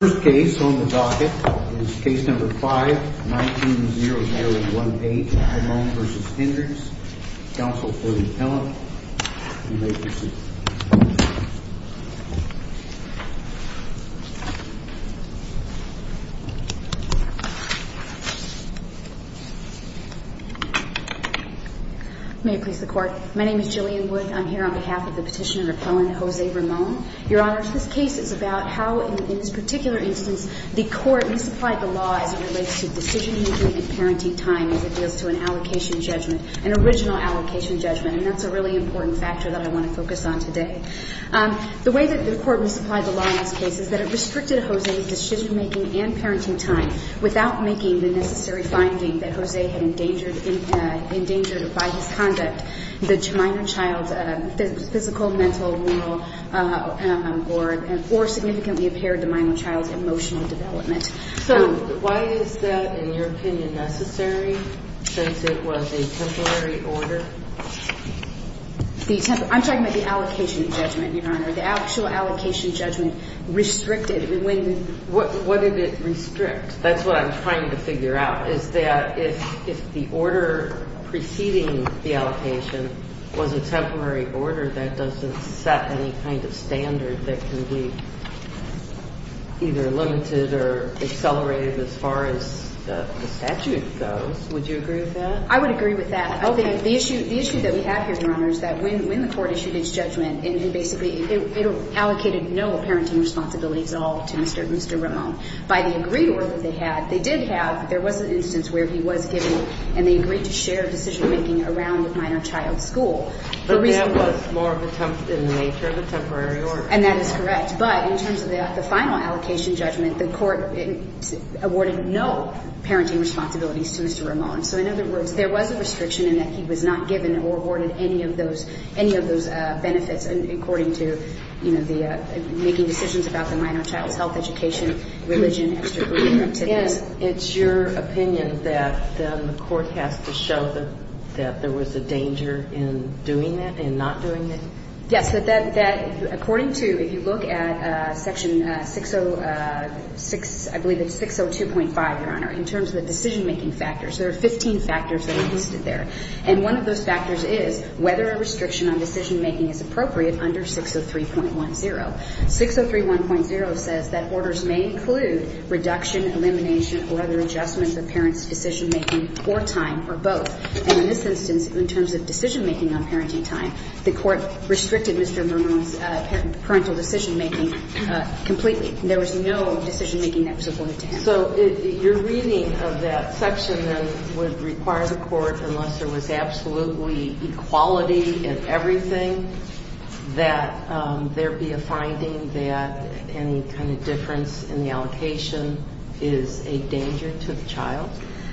The first case on the docket is case number 5-19-0018, Ramon v. Hendricks, counsel for the appellant. You may proceed. May it please the court. My name is Jillian Wood. I'm here on behalf of the petitioner appellant, Jose Ramon. Your Honor, this case is about how, in this particular instance, the court misapplied the law as it relates to decision-making and parenting time as it deals to an allocation judgment, an original allocation judgment. And that's a really important factor that I want to focus on today. The way that the court misapplied the law in this case is that it restricted Jose's decision-making and parenting time without making the necessary finding that Jose had endangered by his conduct, the minor child's physical, mental, moral, or significantly impaired the minor child's emotional development. So why is that, in your opinion, necessary, since it was a temporary order? I'm talking about the allocation judgment, Your Honor. The actual allocation judgment restricted when the – The actual allocation was a temporary order that doesn't set any kind of standard that can be either limited or accelerated as far as the statute goes. Would you agree with that? I would agree with that. Okay. The issue that we have here, Your Honor, is that when the court issued its judgment, it basically – it allocated no parenting responsibilities at all to Mr. Ramon. By the agreed order they had, they did have – there was an instance where he was given and they agreed to share decision-making around the minor child's school. But that was more in the nature of a temporary order. And that is correct. But in terms of the final allocation judgment, the court awarded no parenting responsibilities to Mr. Ramon. So in other words, there was a restriction in that he was not given or awarded any of those – any of those benefits, according to, you know, the – making decisions about the minor child's health, education, religion, extracurricular activities. Yes. It's your opinion that the court has to show that there was a danger in doing that and not doing it? Yes. That according to – if you look at Section 606 – I believe it's 602.5, Your Honor, in terms of the decision-making factors, there are 15 factors that are listed there. And one of those factors is whether a restriction on decision-making is appropriate under 603.10. 603.10 says that orders may include reduction, elimination, or other adjustments of parents' decision-making or time, or both. And in this instance, in terms of decision-making on parenting time, the court restricted Mr. Ramon's parental decision-making completely. There was no decision-making that was awarded to him. So your reading of that section, then, would require the court, unless there was absolutely equality in everything, that there be a finding that any kind of difference in the allocation is a danger to the child?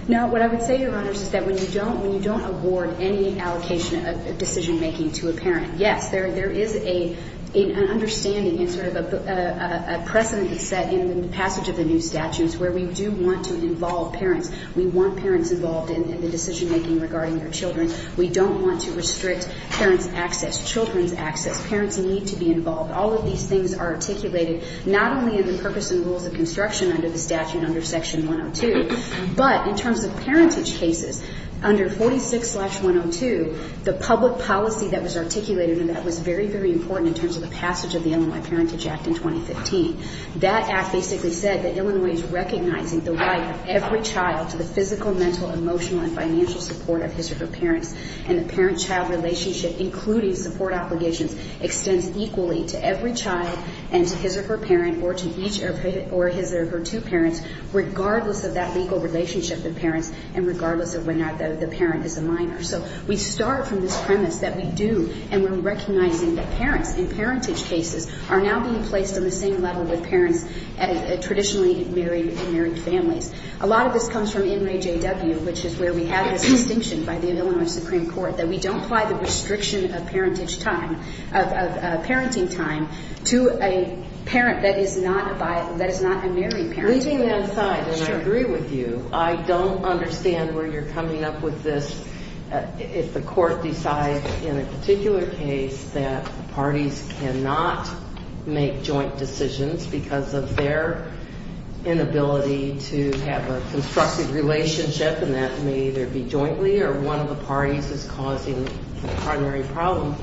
No. What I would say, Your Honors, is that when you don't – when you don't award any allocation of decision-making to a parent, yes, there is a – an understanding and sort of a precedent that's set in the passage of the new statutes where we do want to involve parents. We want parents involved in the decision-making regarding their children. We don't want to restrict parents' access, children's access. Parents need to be involved. All of these things are articulated not only in the purpose and rules of construction under the statute under Section 102, but in terms of parentage cases, under 46-102, the public policy that was articulated in that was very, very important in terms of the passage of the Illinois Parentage Act in 2015. That act basically said that Illinois is recognizing the right of every child to the physical, mental, emotional, and financial support of his or her parents, and the parent-child relationship, including support obligations, extends equally to every child and to his or her parent or to each of his or her two parents, regardless of that legal relationship with parents and regardless of whether or not the parent is a minor. So we start from this premise that we do, and we're recognizing that parents in parentage cases are now being placed on the same level with parents and traditionally married – married families. A lot of this comes from NRAJW, which is where we have this distinction by the Illinois Supreme Court that we don't apply the restriction of parentage time – of parenting time to a parent that is not a – that is not a married parent. Leaving that aside, and I agree with you, I don't understand where you're coming up with this. If the court decides in a particular case that parties cannot make joint decisions because of their inability to have a constructive relationship, and that may either be jointly or one of the parties is causing the primary problem,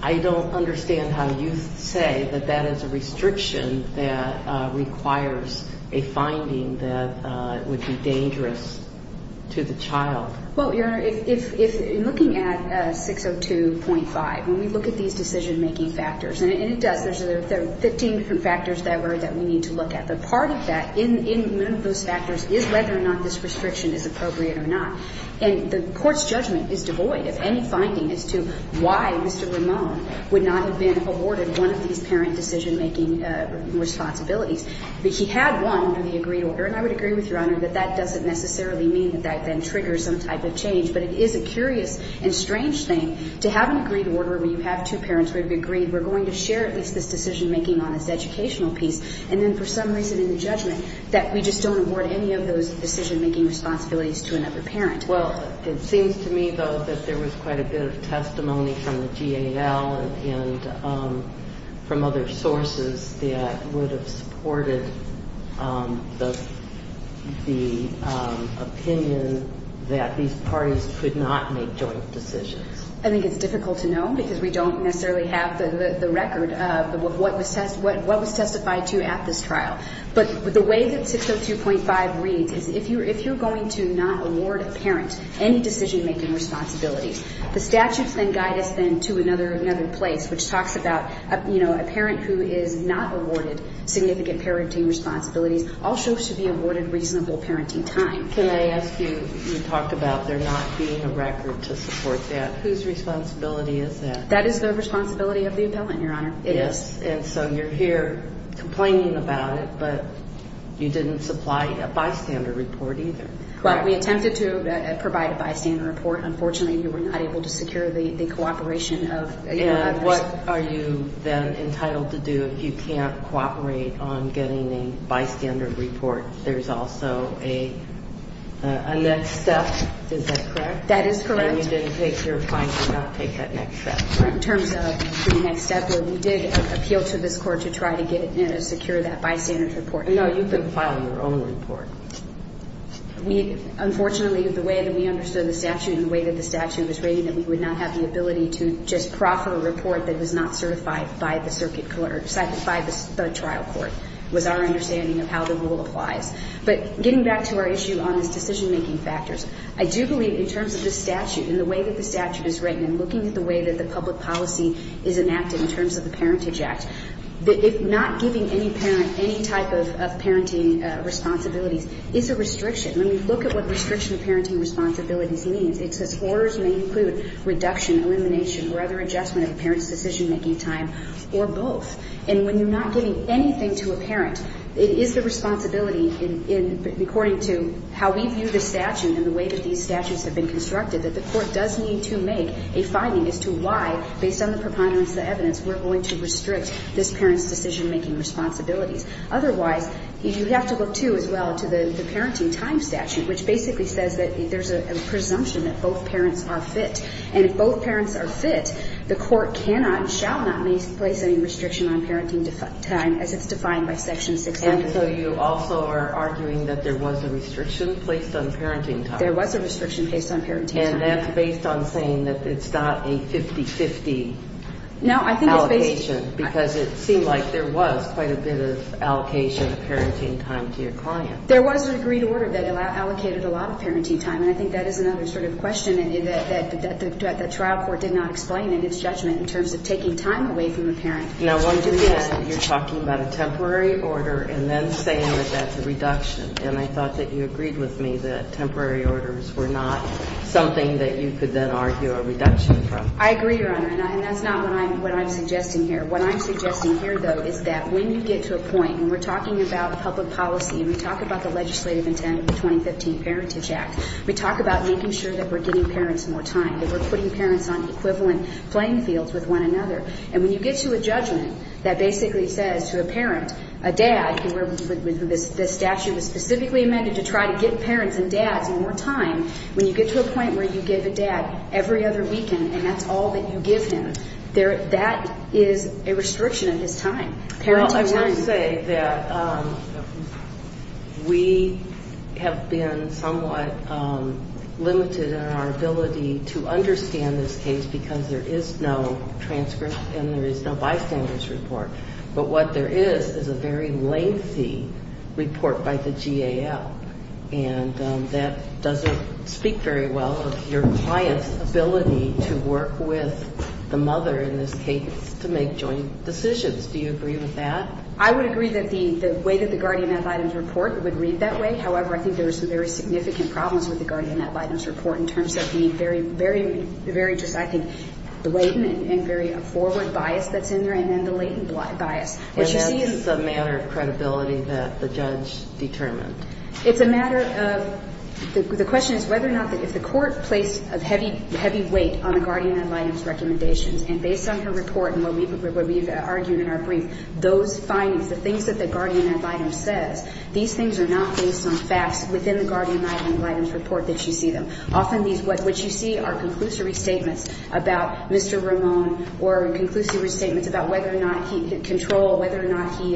I don't understand how you say that that is a restriction that requires a finding that would be dangerous to the child. Well, Your Honor, if – in looking at 602.5, when we look at these decision-making factors – and it does. There's – there are 15 different factors that were – that we need to look at. But part of that in – in one of those factors is whether or not this restriction is appropriate or not. And the court's judgment is devoid of any finding as to why Mr. Ramone would not have been awarded one of these parent decision-making responsibilities. But he had one under the agreed order, and I would agree with Your Honor that that doesn't necessarily mean that that then triggers some type of change. But it is a curious and strange thing to have an agreed order where you have two parents who have agreed we're going to share at least this decision-making on this educational piece, and then for some reason in the judgment that we just don't award any of those decision-making responsibilities to another parent. Well, it seems to me, though, that there was quite a bit of testimony from the GAL and from other sources that would have supported the – the opinion that these parties could not make joint decisions. I think it's difficult to know because we don't necessarily have the – the record of what was – what was testified to at this trial. But the way that 602.5 reads is if you're – if you're going to not award a parent any decision-making responsibilities, the statutes then guide us then to another – another place, which talks about, you know, a parent who is not awarded significant parenting responsibilities also should be awarded reasonable parenting time. Can I ask you – you talk about there not being a record to support that. Whose responsibility is that? That is the responsibility of the appellant, Your Honor. Yes. And so you're here complaining about it, but you didn't supply a bystander report either. Well, we attempted to provide a bystander report. Unfortunately, we were not able to secure the – the cooperation of – And what are you then entitled to do if you can't cooperate on getting a bystander report? There's also a – a next step. Is that correct? That is correct. And you didn't take – you're fined for not taking that next step. In terms of the next step, well, we did appeal to this court to try to get – you know, secure that bystander report. No, you've been filing your own report. We – unfortunately, the way that we understood the statute and the way that the statute was rated, that we would not have the ability to just proffer a report that was not certified by the circuit court – was our understanding of how the rule applies. But getting back to our issue on this decision-making factors, I do believe in terms of the statute and the way that the statute is written and looking at the way that the public policy is enacted in terms of the Parentage Act, that if not giving any parent any type of parenting responsibilities is a restriction. When we look at what restriction of parenting responsibilities means, it says orders may include reduction, elimination, or other adjustment of a parent's decision-making time, or both. And when you're not giving anything to a parent, it is the responsibility in – according to how we view the statute and the way that these statutes have been constructed, that the court does need to make a finding as to why, based on the preponderance of the evidence, we're going to restrict this parent's decision-making responsibilities. Otherwise, you have to look, too, as well, to the Parenting Time Statute, which basically says that there's a presumption that both parents are fit. And if both parents are fit, the court cannot and shall not place any restriction on parenting time, as it's defined by Section 600. And so you also are arguing that there was a restriction placed on parenting time. There was a restriction placed on parenting time. And that's based on saying that it's not a 50-50 allocation, because it seemed like there was quite a bit of allocation of parenting time to your client. There was an agreed order that allocated a lot of parenting time, and I think that is another sort of question that the trial court did not explain in its judgment in terms of taking time away from the parent. Now, once again, you're talking about a temporary order and then saying that that's a reduction. And I thought that you agreed with me that temporary orders were not something that you could then argue a reduction from. I agree, Your Honor, and that's not what I'm suggesting here. What I'm suggesting here, though, is that when you get to a point, and we're talking about public policy and we talk about the legislative intent of the 2015 Parentage Act, we talk about making sure that we're getting parents more time, that we're putting parents on equivalent playing fields with one another. And when you get to a judgment that basically says to a parent, a dad, this statute was specifically amended to try to get parents and dads more time, when you get to a point where you give a dad every other weekend and that's all that you give him, that is a restriction of his time, parenting time. I would say that we have been somewhat limited in our ability to understand this case because there is no transcript and there is no bystanders report. But what there is is a very lengthy report by the GAL, and that doesn't speak very well of your client's ability to work with the mother in this case to make joint decisions. Do you agree with that? I would agree that the way that the guardian ad litem's report would read that way. However, I think there are some very significant problems with the guardian ad litem's report in terms of the very, very, very, I think, blatant and very forward bias that's in there, and then the latent bias. What you see is the matter of credibility that the judge determined. It's a matter of the question is whether or not if the court placed a heavy, heavy weight on a guardian ad litem's recommendations, and based on her report and what we've argued in our brief, those findings, the things that the guardian ad litem says, these things are not based on facts within the guardian ad litem's report that you see them. Often what you see are conclusive restatements about Mr. Ramone or conclusive restatements about whether or not he had control, whether or not he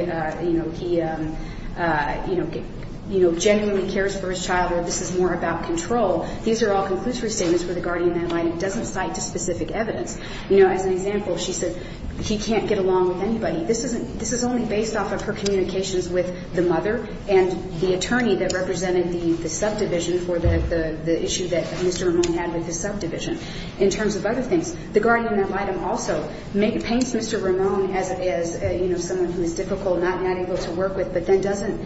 genuinely cares for his child, or this is more about control. These are all conclusive restatements where the guardian ad litem doesn't cite specific evidence. You know, as an example, she said he can't get along with anybody. This is only based off of her communications with the mother and the attorney that represented the subdivision for the issue that Mr. Ramone had with the subdivision. In terms of other things, the guardian ad litem also paints Mr. Ramone as, you know, someone who is difficult, not able to work with, but then doesn't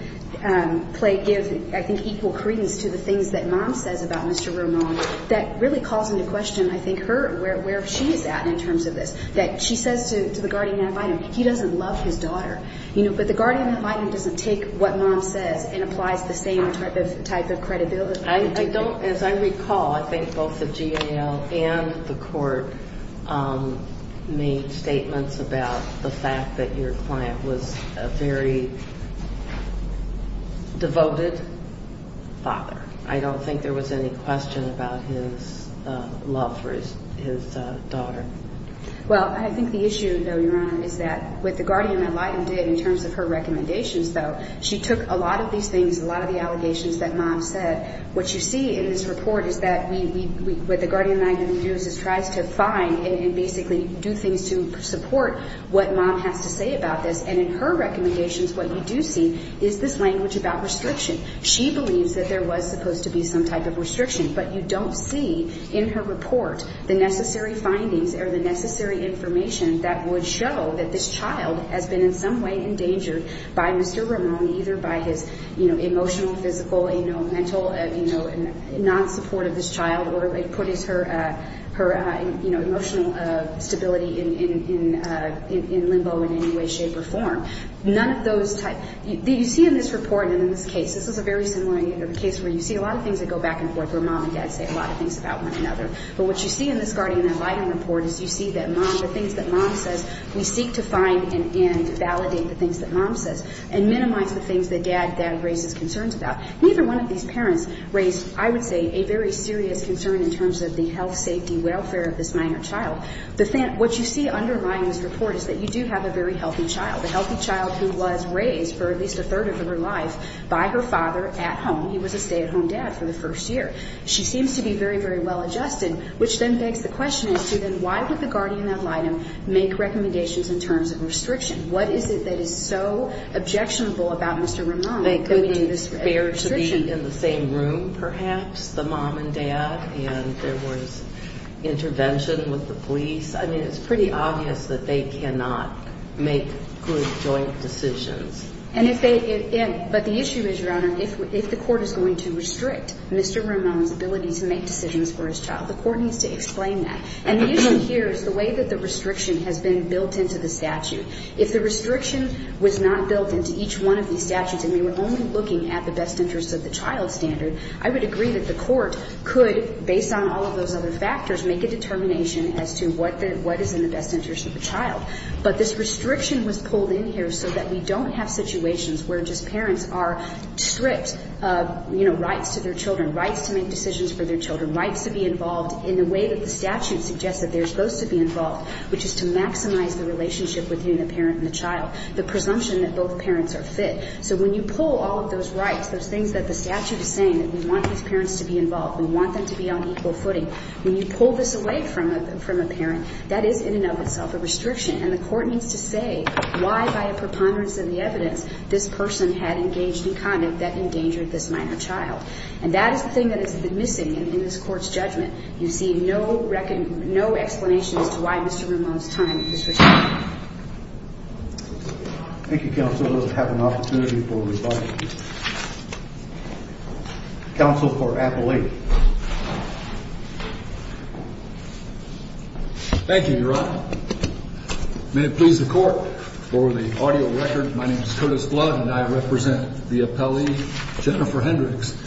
give, I think, equal credence to the things that mom says about Mr. Ramone. That really calls into question, I think, her, where she is at in terms of this, that she says to the guardian ad litem, he doesn't love his daughter, you know, but the guardian ad litem doesn't take what mom says and applies the same type of credibility. I don't, as I recall, I think both the GAL and the court made statements about the fact that your client was a very devoted father. I don't think there was any question about his love for his daughter. Well, I think the issue, though, Your Honor, is that what the guardian ad litem did in terms of her recommendations, though, she took a lot of these things, a lot of the allegations that mom said. What you see in this report is that what the guardian ad litem does is tries to find and basically do things to support what mom has to say about this. And in her recommendations, what you do see is this language about restriction. She believes that there was supposed to be some type of restriction, but you don't see in her report the necessary findings or the necessary information that would show that this child has been in some way endangered by Mr. Ramone, either by his, you know, emotional, physical, you know, mental, you know, non-support of this child, or it puts her emotional stability in limbo in any way, shape, or form. None of those types. You see in this report and in this case, this is a very similar case where you see a lot of things that go back and forth where mom and dad say a lot of things about one another. But what you see in this guardian ad litem report is you see that mom, the things that mom says, we seek to find and validate the things that mom says and minimize the things that dad raises concerns about. Neither one of these parents raised, I would say, a very serious concern in terms of the health, safety, welfare of this minor child. What you see underlying this report is that you do have a very healthy child. A healthy child who was raised for at least a third of her life by her father at home. He was a stay-at-home dad for the first year. She seems to be very, very well adjusted, which then begs the question as to then why would the guardian ad litem make recommendations in terms of restriction? What is it that is so objectionable about Mr. Ramone that we need this restriction? To be in the same room, perhaps, the mom and dad, and there was intervention with the police. I mean, it's pretty obvious that they cannot make good joint decisions. But the issue is, Your Honor, if the court is going to restrict Mr. Ramone's ability to make decisions for his child, the court needs to explain that. And the issue here is the way that the restriction has been built into the statute. If the restriction was not built into each one of these statutes and we were only looking at the best interest of the child standard, I would agree that the court could, based on all of those other factors, make a determination as to what is in the best interest of the child. But this restriction was pulled in here so that we don't have situations where just parents are stripped of rights to their children, rights to make decisions for their children, rights to be involved in the way that the statute suggests that they're supposed to be involved, which is to maximize the relationship between the parent and the child, the presumption that both parents are fit. So when you pull all of those rights, those things that the statute is saying, that we want these parents to be involved, we want them to be on equal footing, when you pull this away from a parent, that is in and of itself a restriction. And the court needs to say why, by a preponderance of the evidence, this person had engaged in conduct that endangered this minor child. And that is the thing that has been missing in this Court's judgment. You see no explanation as to why Mr. Ramone's time is restricted. Thank you, Counsel. I'll have an opportunity for rebuttal. Counsel for Appellate. Thank you, Your Honor. May it please the Court. For the audio record, my name is Curtis Blood, and I represent the appellee Jennifer Hendricks.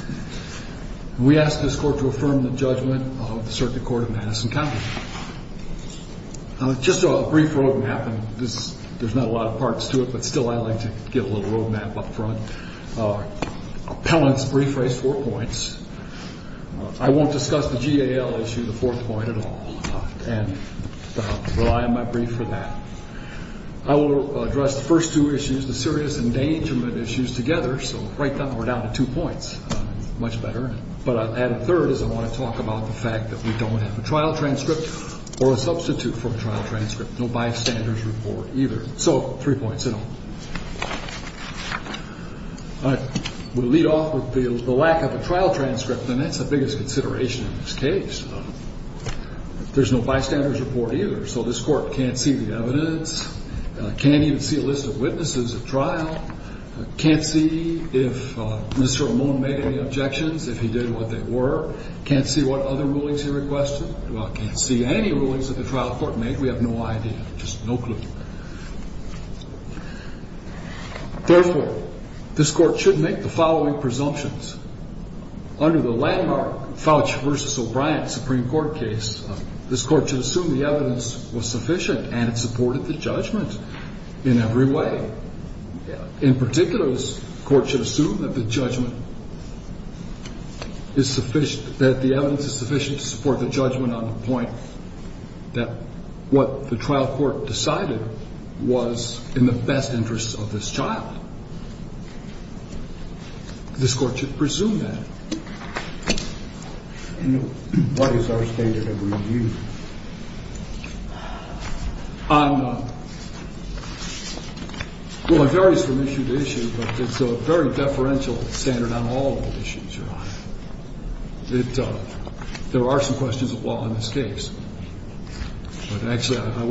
We ask this Court to affirm the judgment of the Circuit Court of Madison County. Just a brief road map, and there's not a lot of parts to it, but still I like to give a little road map up front. Appellant's brief raised four points. I won't discuss the GAL issue, the fourth point at all, and rely on my brief for that. I will address the first two issues, the serious endangerment issues, together, so right now we're down to two points. Much better. But I'll add a third, as I want to talk about the fact that we don't have a trial transcript or a substitute for a trial transcript, no bystander's report either. So, three points in all. I will lead off with the lack of a trial transcript, and that's the biggest consideration in this case. There's no bystander's report either, so this Court can't see the evidence, can't even see a list of witnesses at trial, can't see if Mr. Amon made any objections, if he did what they were, can't see what other rulings he requested, well, can't see any rulings that the trial court made, we have no idea, just no clue. Therefore, this Court should make the following presumptions. Under the landmark Fouch v. O'Brien Supreme Court case, this Court should assume the evidence was sufficient and it supported the judgment in every way. In particular, this Court should assume that the judgment is sufficient, that the evidence is sufficient to support the judgment on the point that what the trial court decided was in the best interest of this child. This Court should presume that. And what is our standard of review? Well, it varies from issue to issue, but it's a very deferential standard on all of the issues you're on. There are some questions of law in this case. But actually, I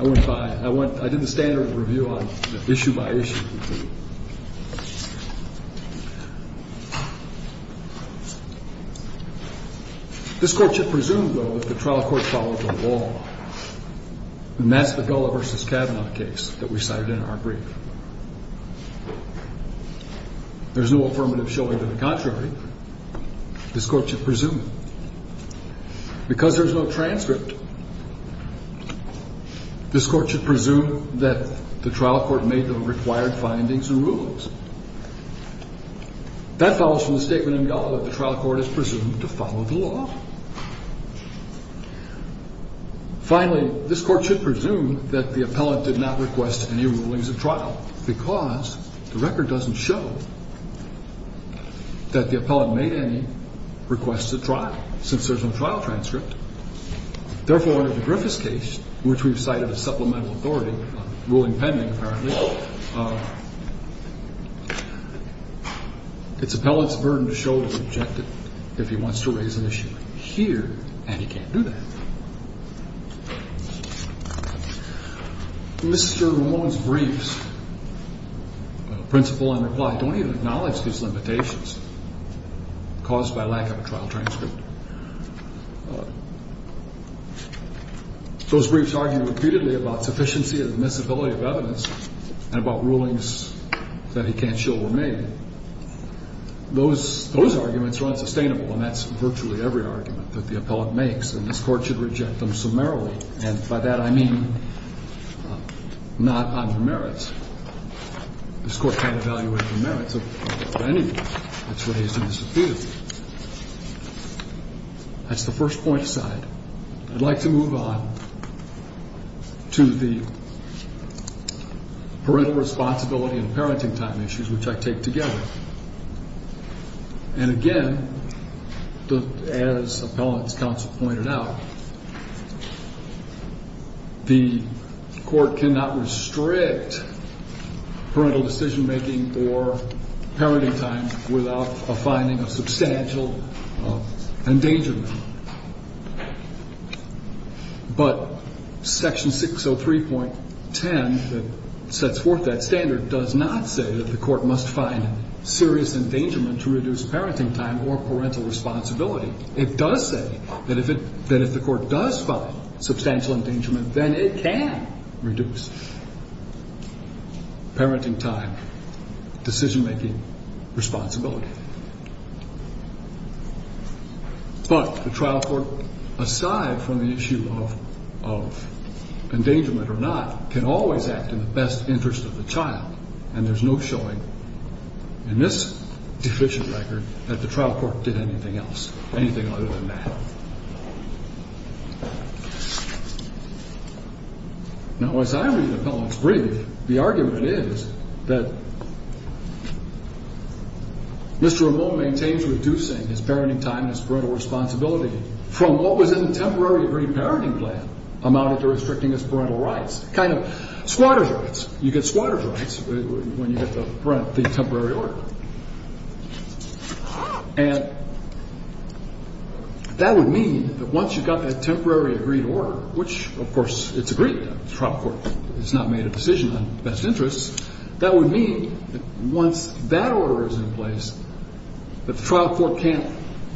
went by it. I did the standard review on issue by issue. This Court should presume, though, that the trial court followed the law. And that's the Gulla v. Kavanaugh case that we cited in our brief. There's no affirmative showing to the contrary. This Court should presume. Because there's no transcript, this Court should presume that the trial court made the required presumptions. That follows from the statement in Gulla that the trial court is presumed to follow the law. Finally, this Court should presume that the appellant did not request any rulings of trial because the record doesn't show that the appellant made any requests of trial, since there's no trial transcript. Therefore, one of the Griffiths case, which we've cited as supplemental authority, a ruling pending, apparently, it's appellant's burden to show his objective if he wants to raise an issue here, and he can't do that. Mr. Ramone's briefs, principle and reply, don't even acknowledge these limitations caused by lack of a trial transcript. Those briefs argue repeatedly about sufficiency and admissibility of evidence and about rulings that he can't show were made. Those arguments are unsustainable, and that's virtually every argument that the appellant makes, and this Court should reject them summarily. And by that, I mean not on the merits. This Court can't evaluate the merits of any brief that's raised admissibility. That's the first point aside. I'd like to move on to the parental responsibility and parenting time issues, which I take together. And again, as appellant's counsel pointed out, the Court cannot restrict parental decision-making or parenting time without a finding of substantial endangerment. But Section 603.10 that sets forth that standard does not say that the Court must find serious endangerment to reduce parenting time or parental responsibility. It does say that if the Court does find substantial endangerment, then it can reduce parenting time. That's a decision-making responsibility. But the trial court, aside from the issue of endangerment or not, can always act in the best interest of the child, and there's no showing in this deficient record that the trial court did anything else, anything other than that. Now, as I read appellant's brief, the argument is that Mr. Ramone maintains reducing his parenting time and his parental responsibility from what was in the temporary agreed parenting plan amounted to restricting his parental rights, kind of squatter's rights. You get squatter's rights when you get the temporary order. And that would mean that once you've got that temporary agreed order, which, of course, it's agreed to. The trial court has not made a decision on best interests. That would mean that once that order is in place, the trial court can't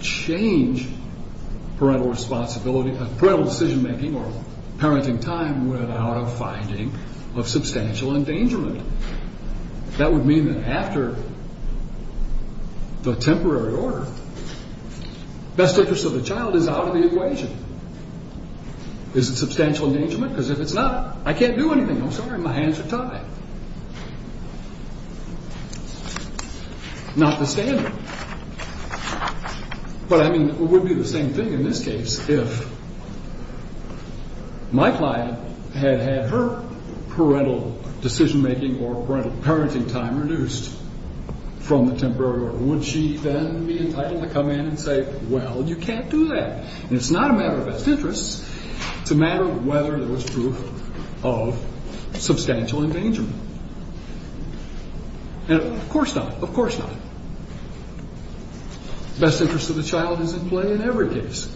change parental responsibility, parental decision-making or parenting time without a finding of substantial endangerment. That would mean that after the temporary order, best interest of the child is out of the equation. Is it substantial endangerment? Because if it's not, I can't do anything. I'm sorry, my hands are tied. Not the standard. But, I mean, it would be the same thing in this case if my client had had her parental decision-making or parental parenting time reduced from the temporary order. Would she then be entitled to come in and say, well, you can't do that. And it's not a matter of best interests. It's a matter of whether there was proof of substantial endangerment. And of course not. Of course not. Best interest of the child is at play in every case.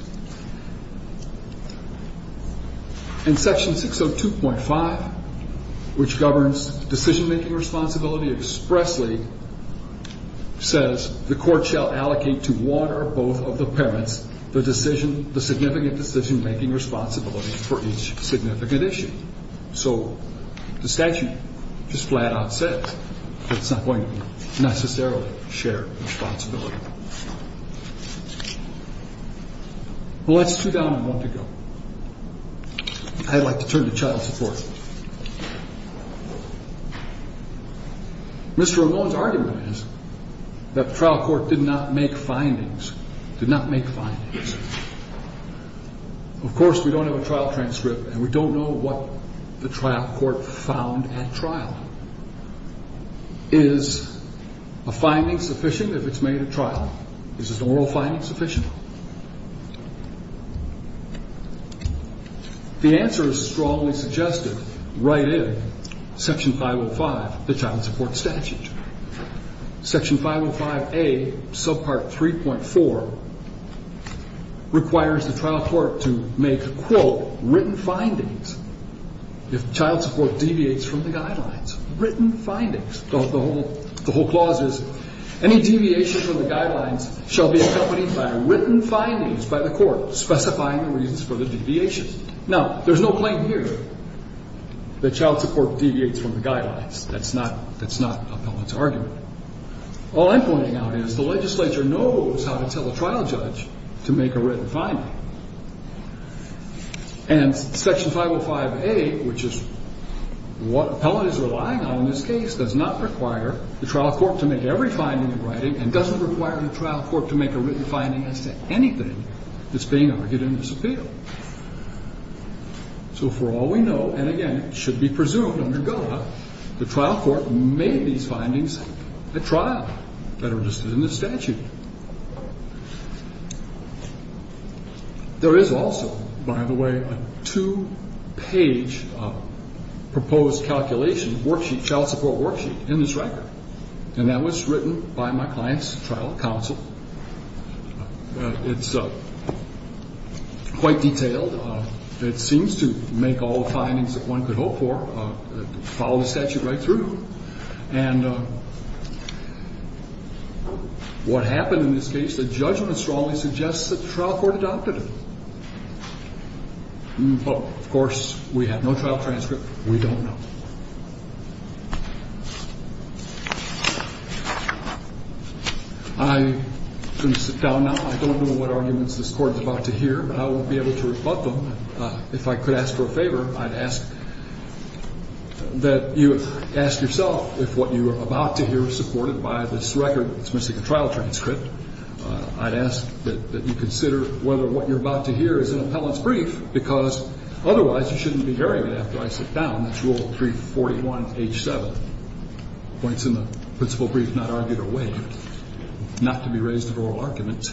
And Section 602.5, which governs decision-making responsibility expressly, says the court shall allocate to one or both of the parents the significant decision-making responsibility for each significant issue. So the statute just flat-out says that it's not going to necessarily share responsibility. Well, that's two down and one to go. I'd like to turn to child support. Mr. Ramone's argument is that the trial court did not make findings. Did not make findings. Of course we don't have a trial transcript and we don't know what the trial court found at trial. Is a finding sufficient if it's made at trial? Is an oral finding sufficient? The answer is strongly suggested right in Section 505, the child support statute. Section 505A, subpart 3.4 requires the trial court to make, quote, written findings if child support deviates from the guidelines. Written findings. The whole clause is any deviation from the guidelines shall be accompanied by written findings by the court specifying the reasons for the deviations. Now, there's no claim here that child support deviates from the guidelines. That's not Appellant's argument. All I'm pointing out is the legislature knows how to tell a trial judge to make a written finding. And Section 505A, which is what Appellant is relying on in this case, does not require the trial court to make every finding in writing and doesn't require the trial court to make a written finding as to anything that's being argued in this appeal. So for all we know, and again, it should be presumed under GOA, the trial court made these findings at trial that are listed in the statute. There is also, by the way, a two-page proposed calculation worksheet, child support worksheet, in this record. And that was written by my client's trial counsel. It's quite detailed. It seems to make all the findings that one could hope for, follow the statute right through. And what happened in this case, the judgment strongly suggests that the trial court adopted it. Of course, we have no trial transcript. We don't know. I'm going to sit down now. I don't know what arguments this Court is about to hear, but I will be able to rebut them. If I could ask for a favor, I'd ask that you ask yourself if what you are about to hear is supported by this record. It's missing a trial transcript. I'd ask that you consider whether what you're about to hear is an appellant's brief, because otherwise you shouldn't be hearing it after I sit down. Rule 341H7 points in the principal brief, not argued or waived, not to be raised in oral arguments.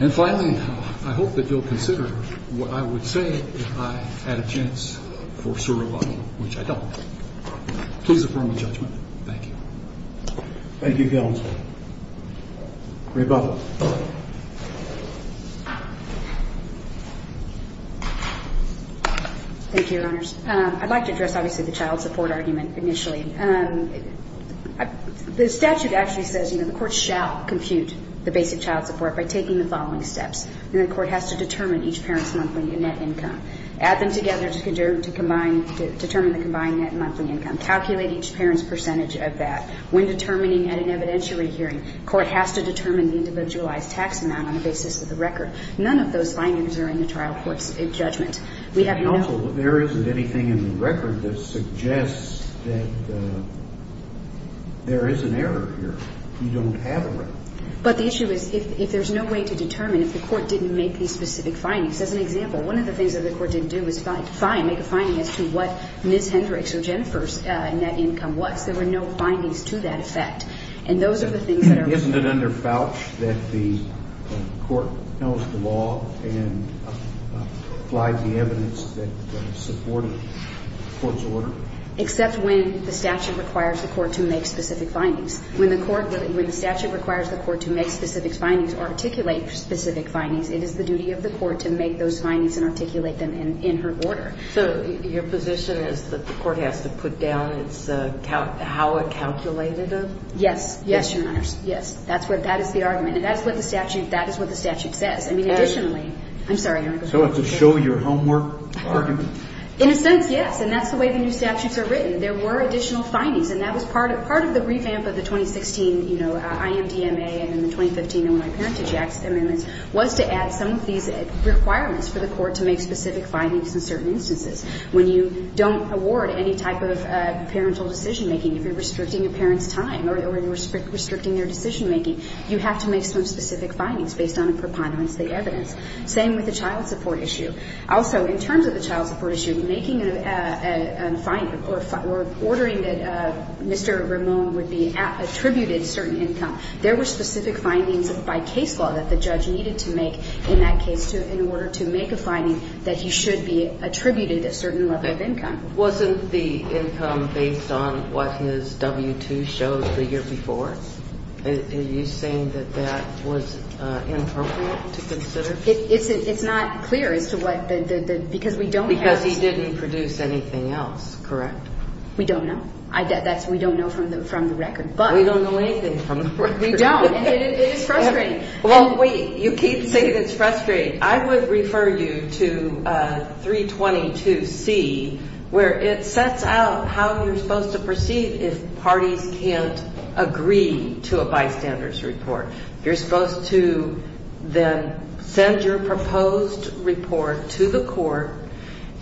And finally, I hope that you'll consider what I would say if I had a chance for serevanna, which I don't. Please affirm the judgment. Thank you. Rebut. Thank you, Your Honors. I'd like to address, obviously, the child support argument initially. The statute actually says, you know, the Court shall compute the basic child support by taking the following steps. The Court has to determine each parent's monthly net income, add them together to determine the combined net monthly income, calculate each parent's percentage of that. When determining at an evidentiary hearing, the Court has to determine the individualized tax amount on the basis of the record. None of those findings are in the trial court's judgment. And also, there isn't anything in the record that suggests that there is an error here. You don't have a record. But the issue is if there's no way to determine, if the Court didn't make these specific findings. As an example, one of the things that the Court didn't do was find, make a finding as to what Ms. Hendricks or Jennifer's net income was. There were no findings to that effect. And those are the things that are wrong. But isn't it under FOUCH that the Court knows the law and applies the evidence that supported the Court's order? Except when the statute requires the Court to make specific findings. When the statute requires the Court to make specific findings or articulate specific findings, it is the duty of the Court to make those findings and articulate them in her order. So your position is that the Court has to put down how it calculated them? Yes. Yes, Your Honor. Yes. That is the argument. And that is what the statute says. I mean, additionally. I'm sorry, Your Honor. So it's a show-your-homework argument? In a sense, yes. And that's the way the new statutes are written. There were additional findings. And that was part of the revamp of the 2016, you know, IMDMA and the 2015 Illinois Parentage Act amendments was to add some of these requirements for the Court to make specific findings in certain instances. When you don't award any type of parental decision-making, if you're restricting a parent's time or you're restricting their decision-making, you have to make some specific findings based on a preponderance of the evidence. Same with the child support issue. Also, in terms of the child support issue, making a finding or ordering that Mr. Ramone would be attributed a certain income, there were specific findings by case law that the judge needed to make in that case in order to make a finding that he should be attributed a certain level of income. Wasn't the income based on what his W-2 showed the year before? Are you saying that that was inappropriate to consider? It's not clear as to what the – because we don't have – Because he didn't produce anything else, correct? We don't know. We don't know from the record, but – We don't know anything from the record. We don't. And it is frustrating. Well, wait. You keep saying it's frustrating. I would refer you to 322C where it sets out how you're supposed to proceed if parties can't agree to a bystander's report. You're supposed to then send your proposed report to the court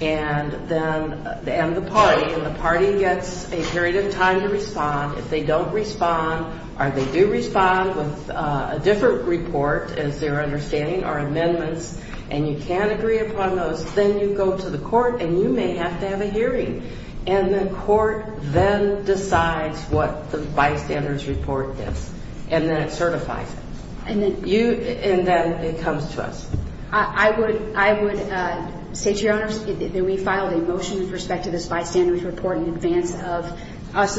and then – and the party, and the party gets a period of time to respond. If they don't respond or they do respond with a different report, as they're understanding are amendments, and you can't agree upon those, then you go to the court and you may have to have a hearing. And the court then decides what the bystander's report is. And then it certifies it. And then – And then it comes to us. I would say to your Honors that we filed a motion with respect to this bystander's report in advance of us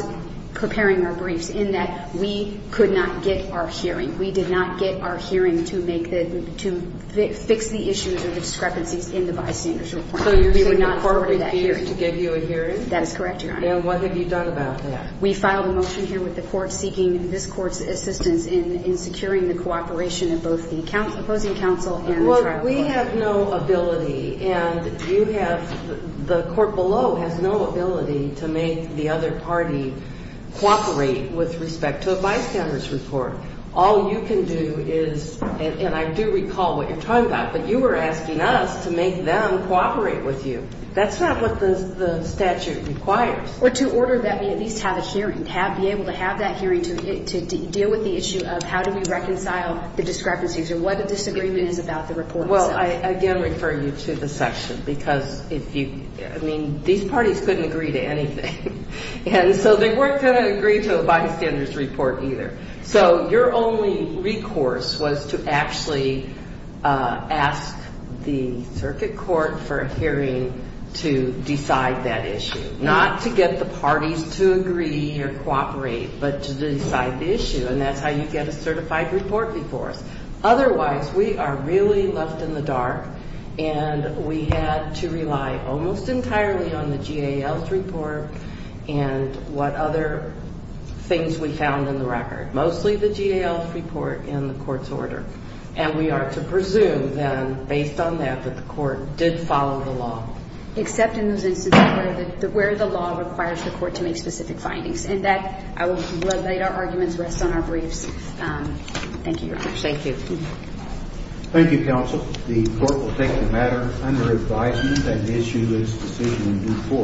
preparing our briefs in that we could not get our hearing. We did not get our hearing to make the – to fix the issues or the discrepancies in the bystander's report. So you're saying the court refused to give you a hearing? That is correct, Your Honor. And what have you done about that? We filed a motion here with the court seeking this court's assistance in securing the cooperation of both the opposing counsel and the trial court. Well, we have no ability, and you have – the court below has no ability to make the other party cooperate with respect to a bystander's report. All you can do is – and I do recall what you're talking about, but you were asking us to make them cooperate with you. That's not what the statute requires. Or to order that we at least have a hearing, be able to have that hearing to deal with the issue of how do we reconcile the discrepancies or what a disagreement is about the report itself. Well, I again refer you to the section because if you – I mean, these parties couldn't agree to anything. And so they weren't going to agree to a bystander's report either. So your only recourse was to actually ask the circuit court for a hearing to decide that issue, not to get the parties to agree or cooperate, but to decide the issue. And that's how you get a certified report before us. Otherwise, we are really left in the dark, and we had to rely almost entirely on the GAL's report and what other things we found in the record, mostly the GAL's report and the court's order. And we are to presume then, based on that, that the court did follow the law. Except in those instances where the law requires the court to make specific findings. And that – I will let our arguments rest on our briefs. Thank you, Your Honor. Thank you. Thank you, counsel. The court will take the matter under advisement and issue this decision in due course.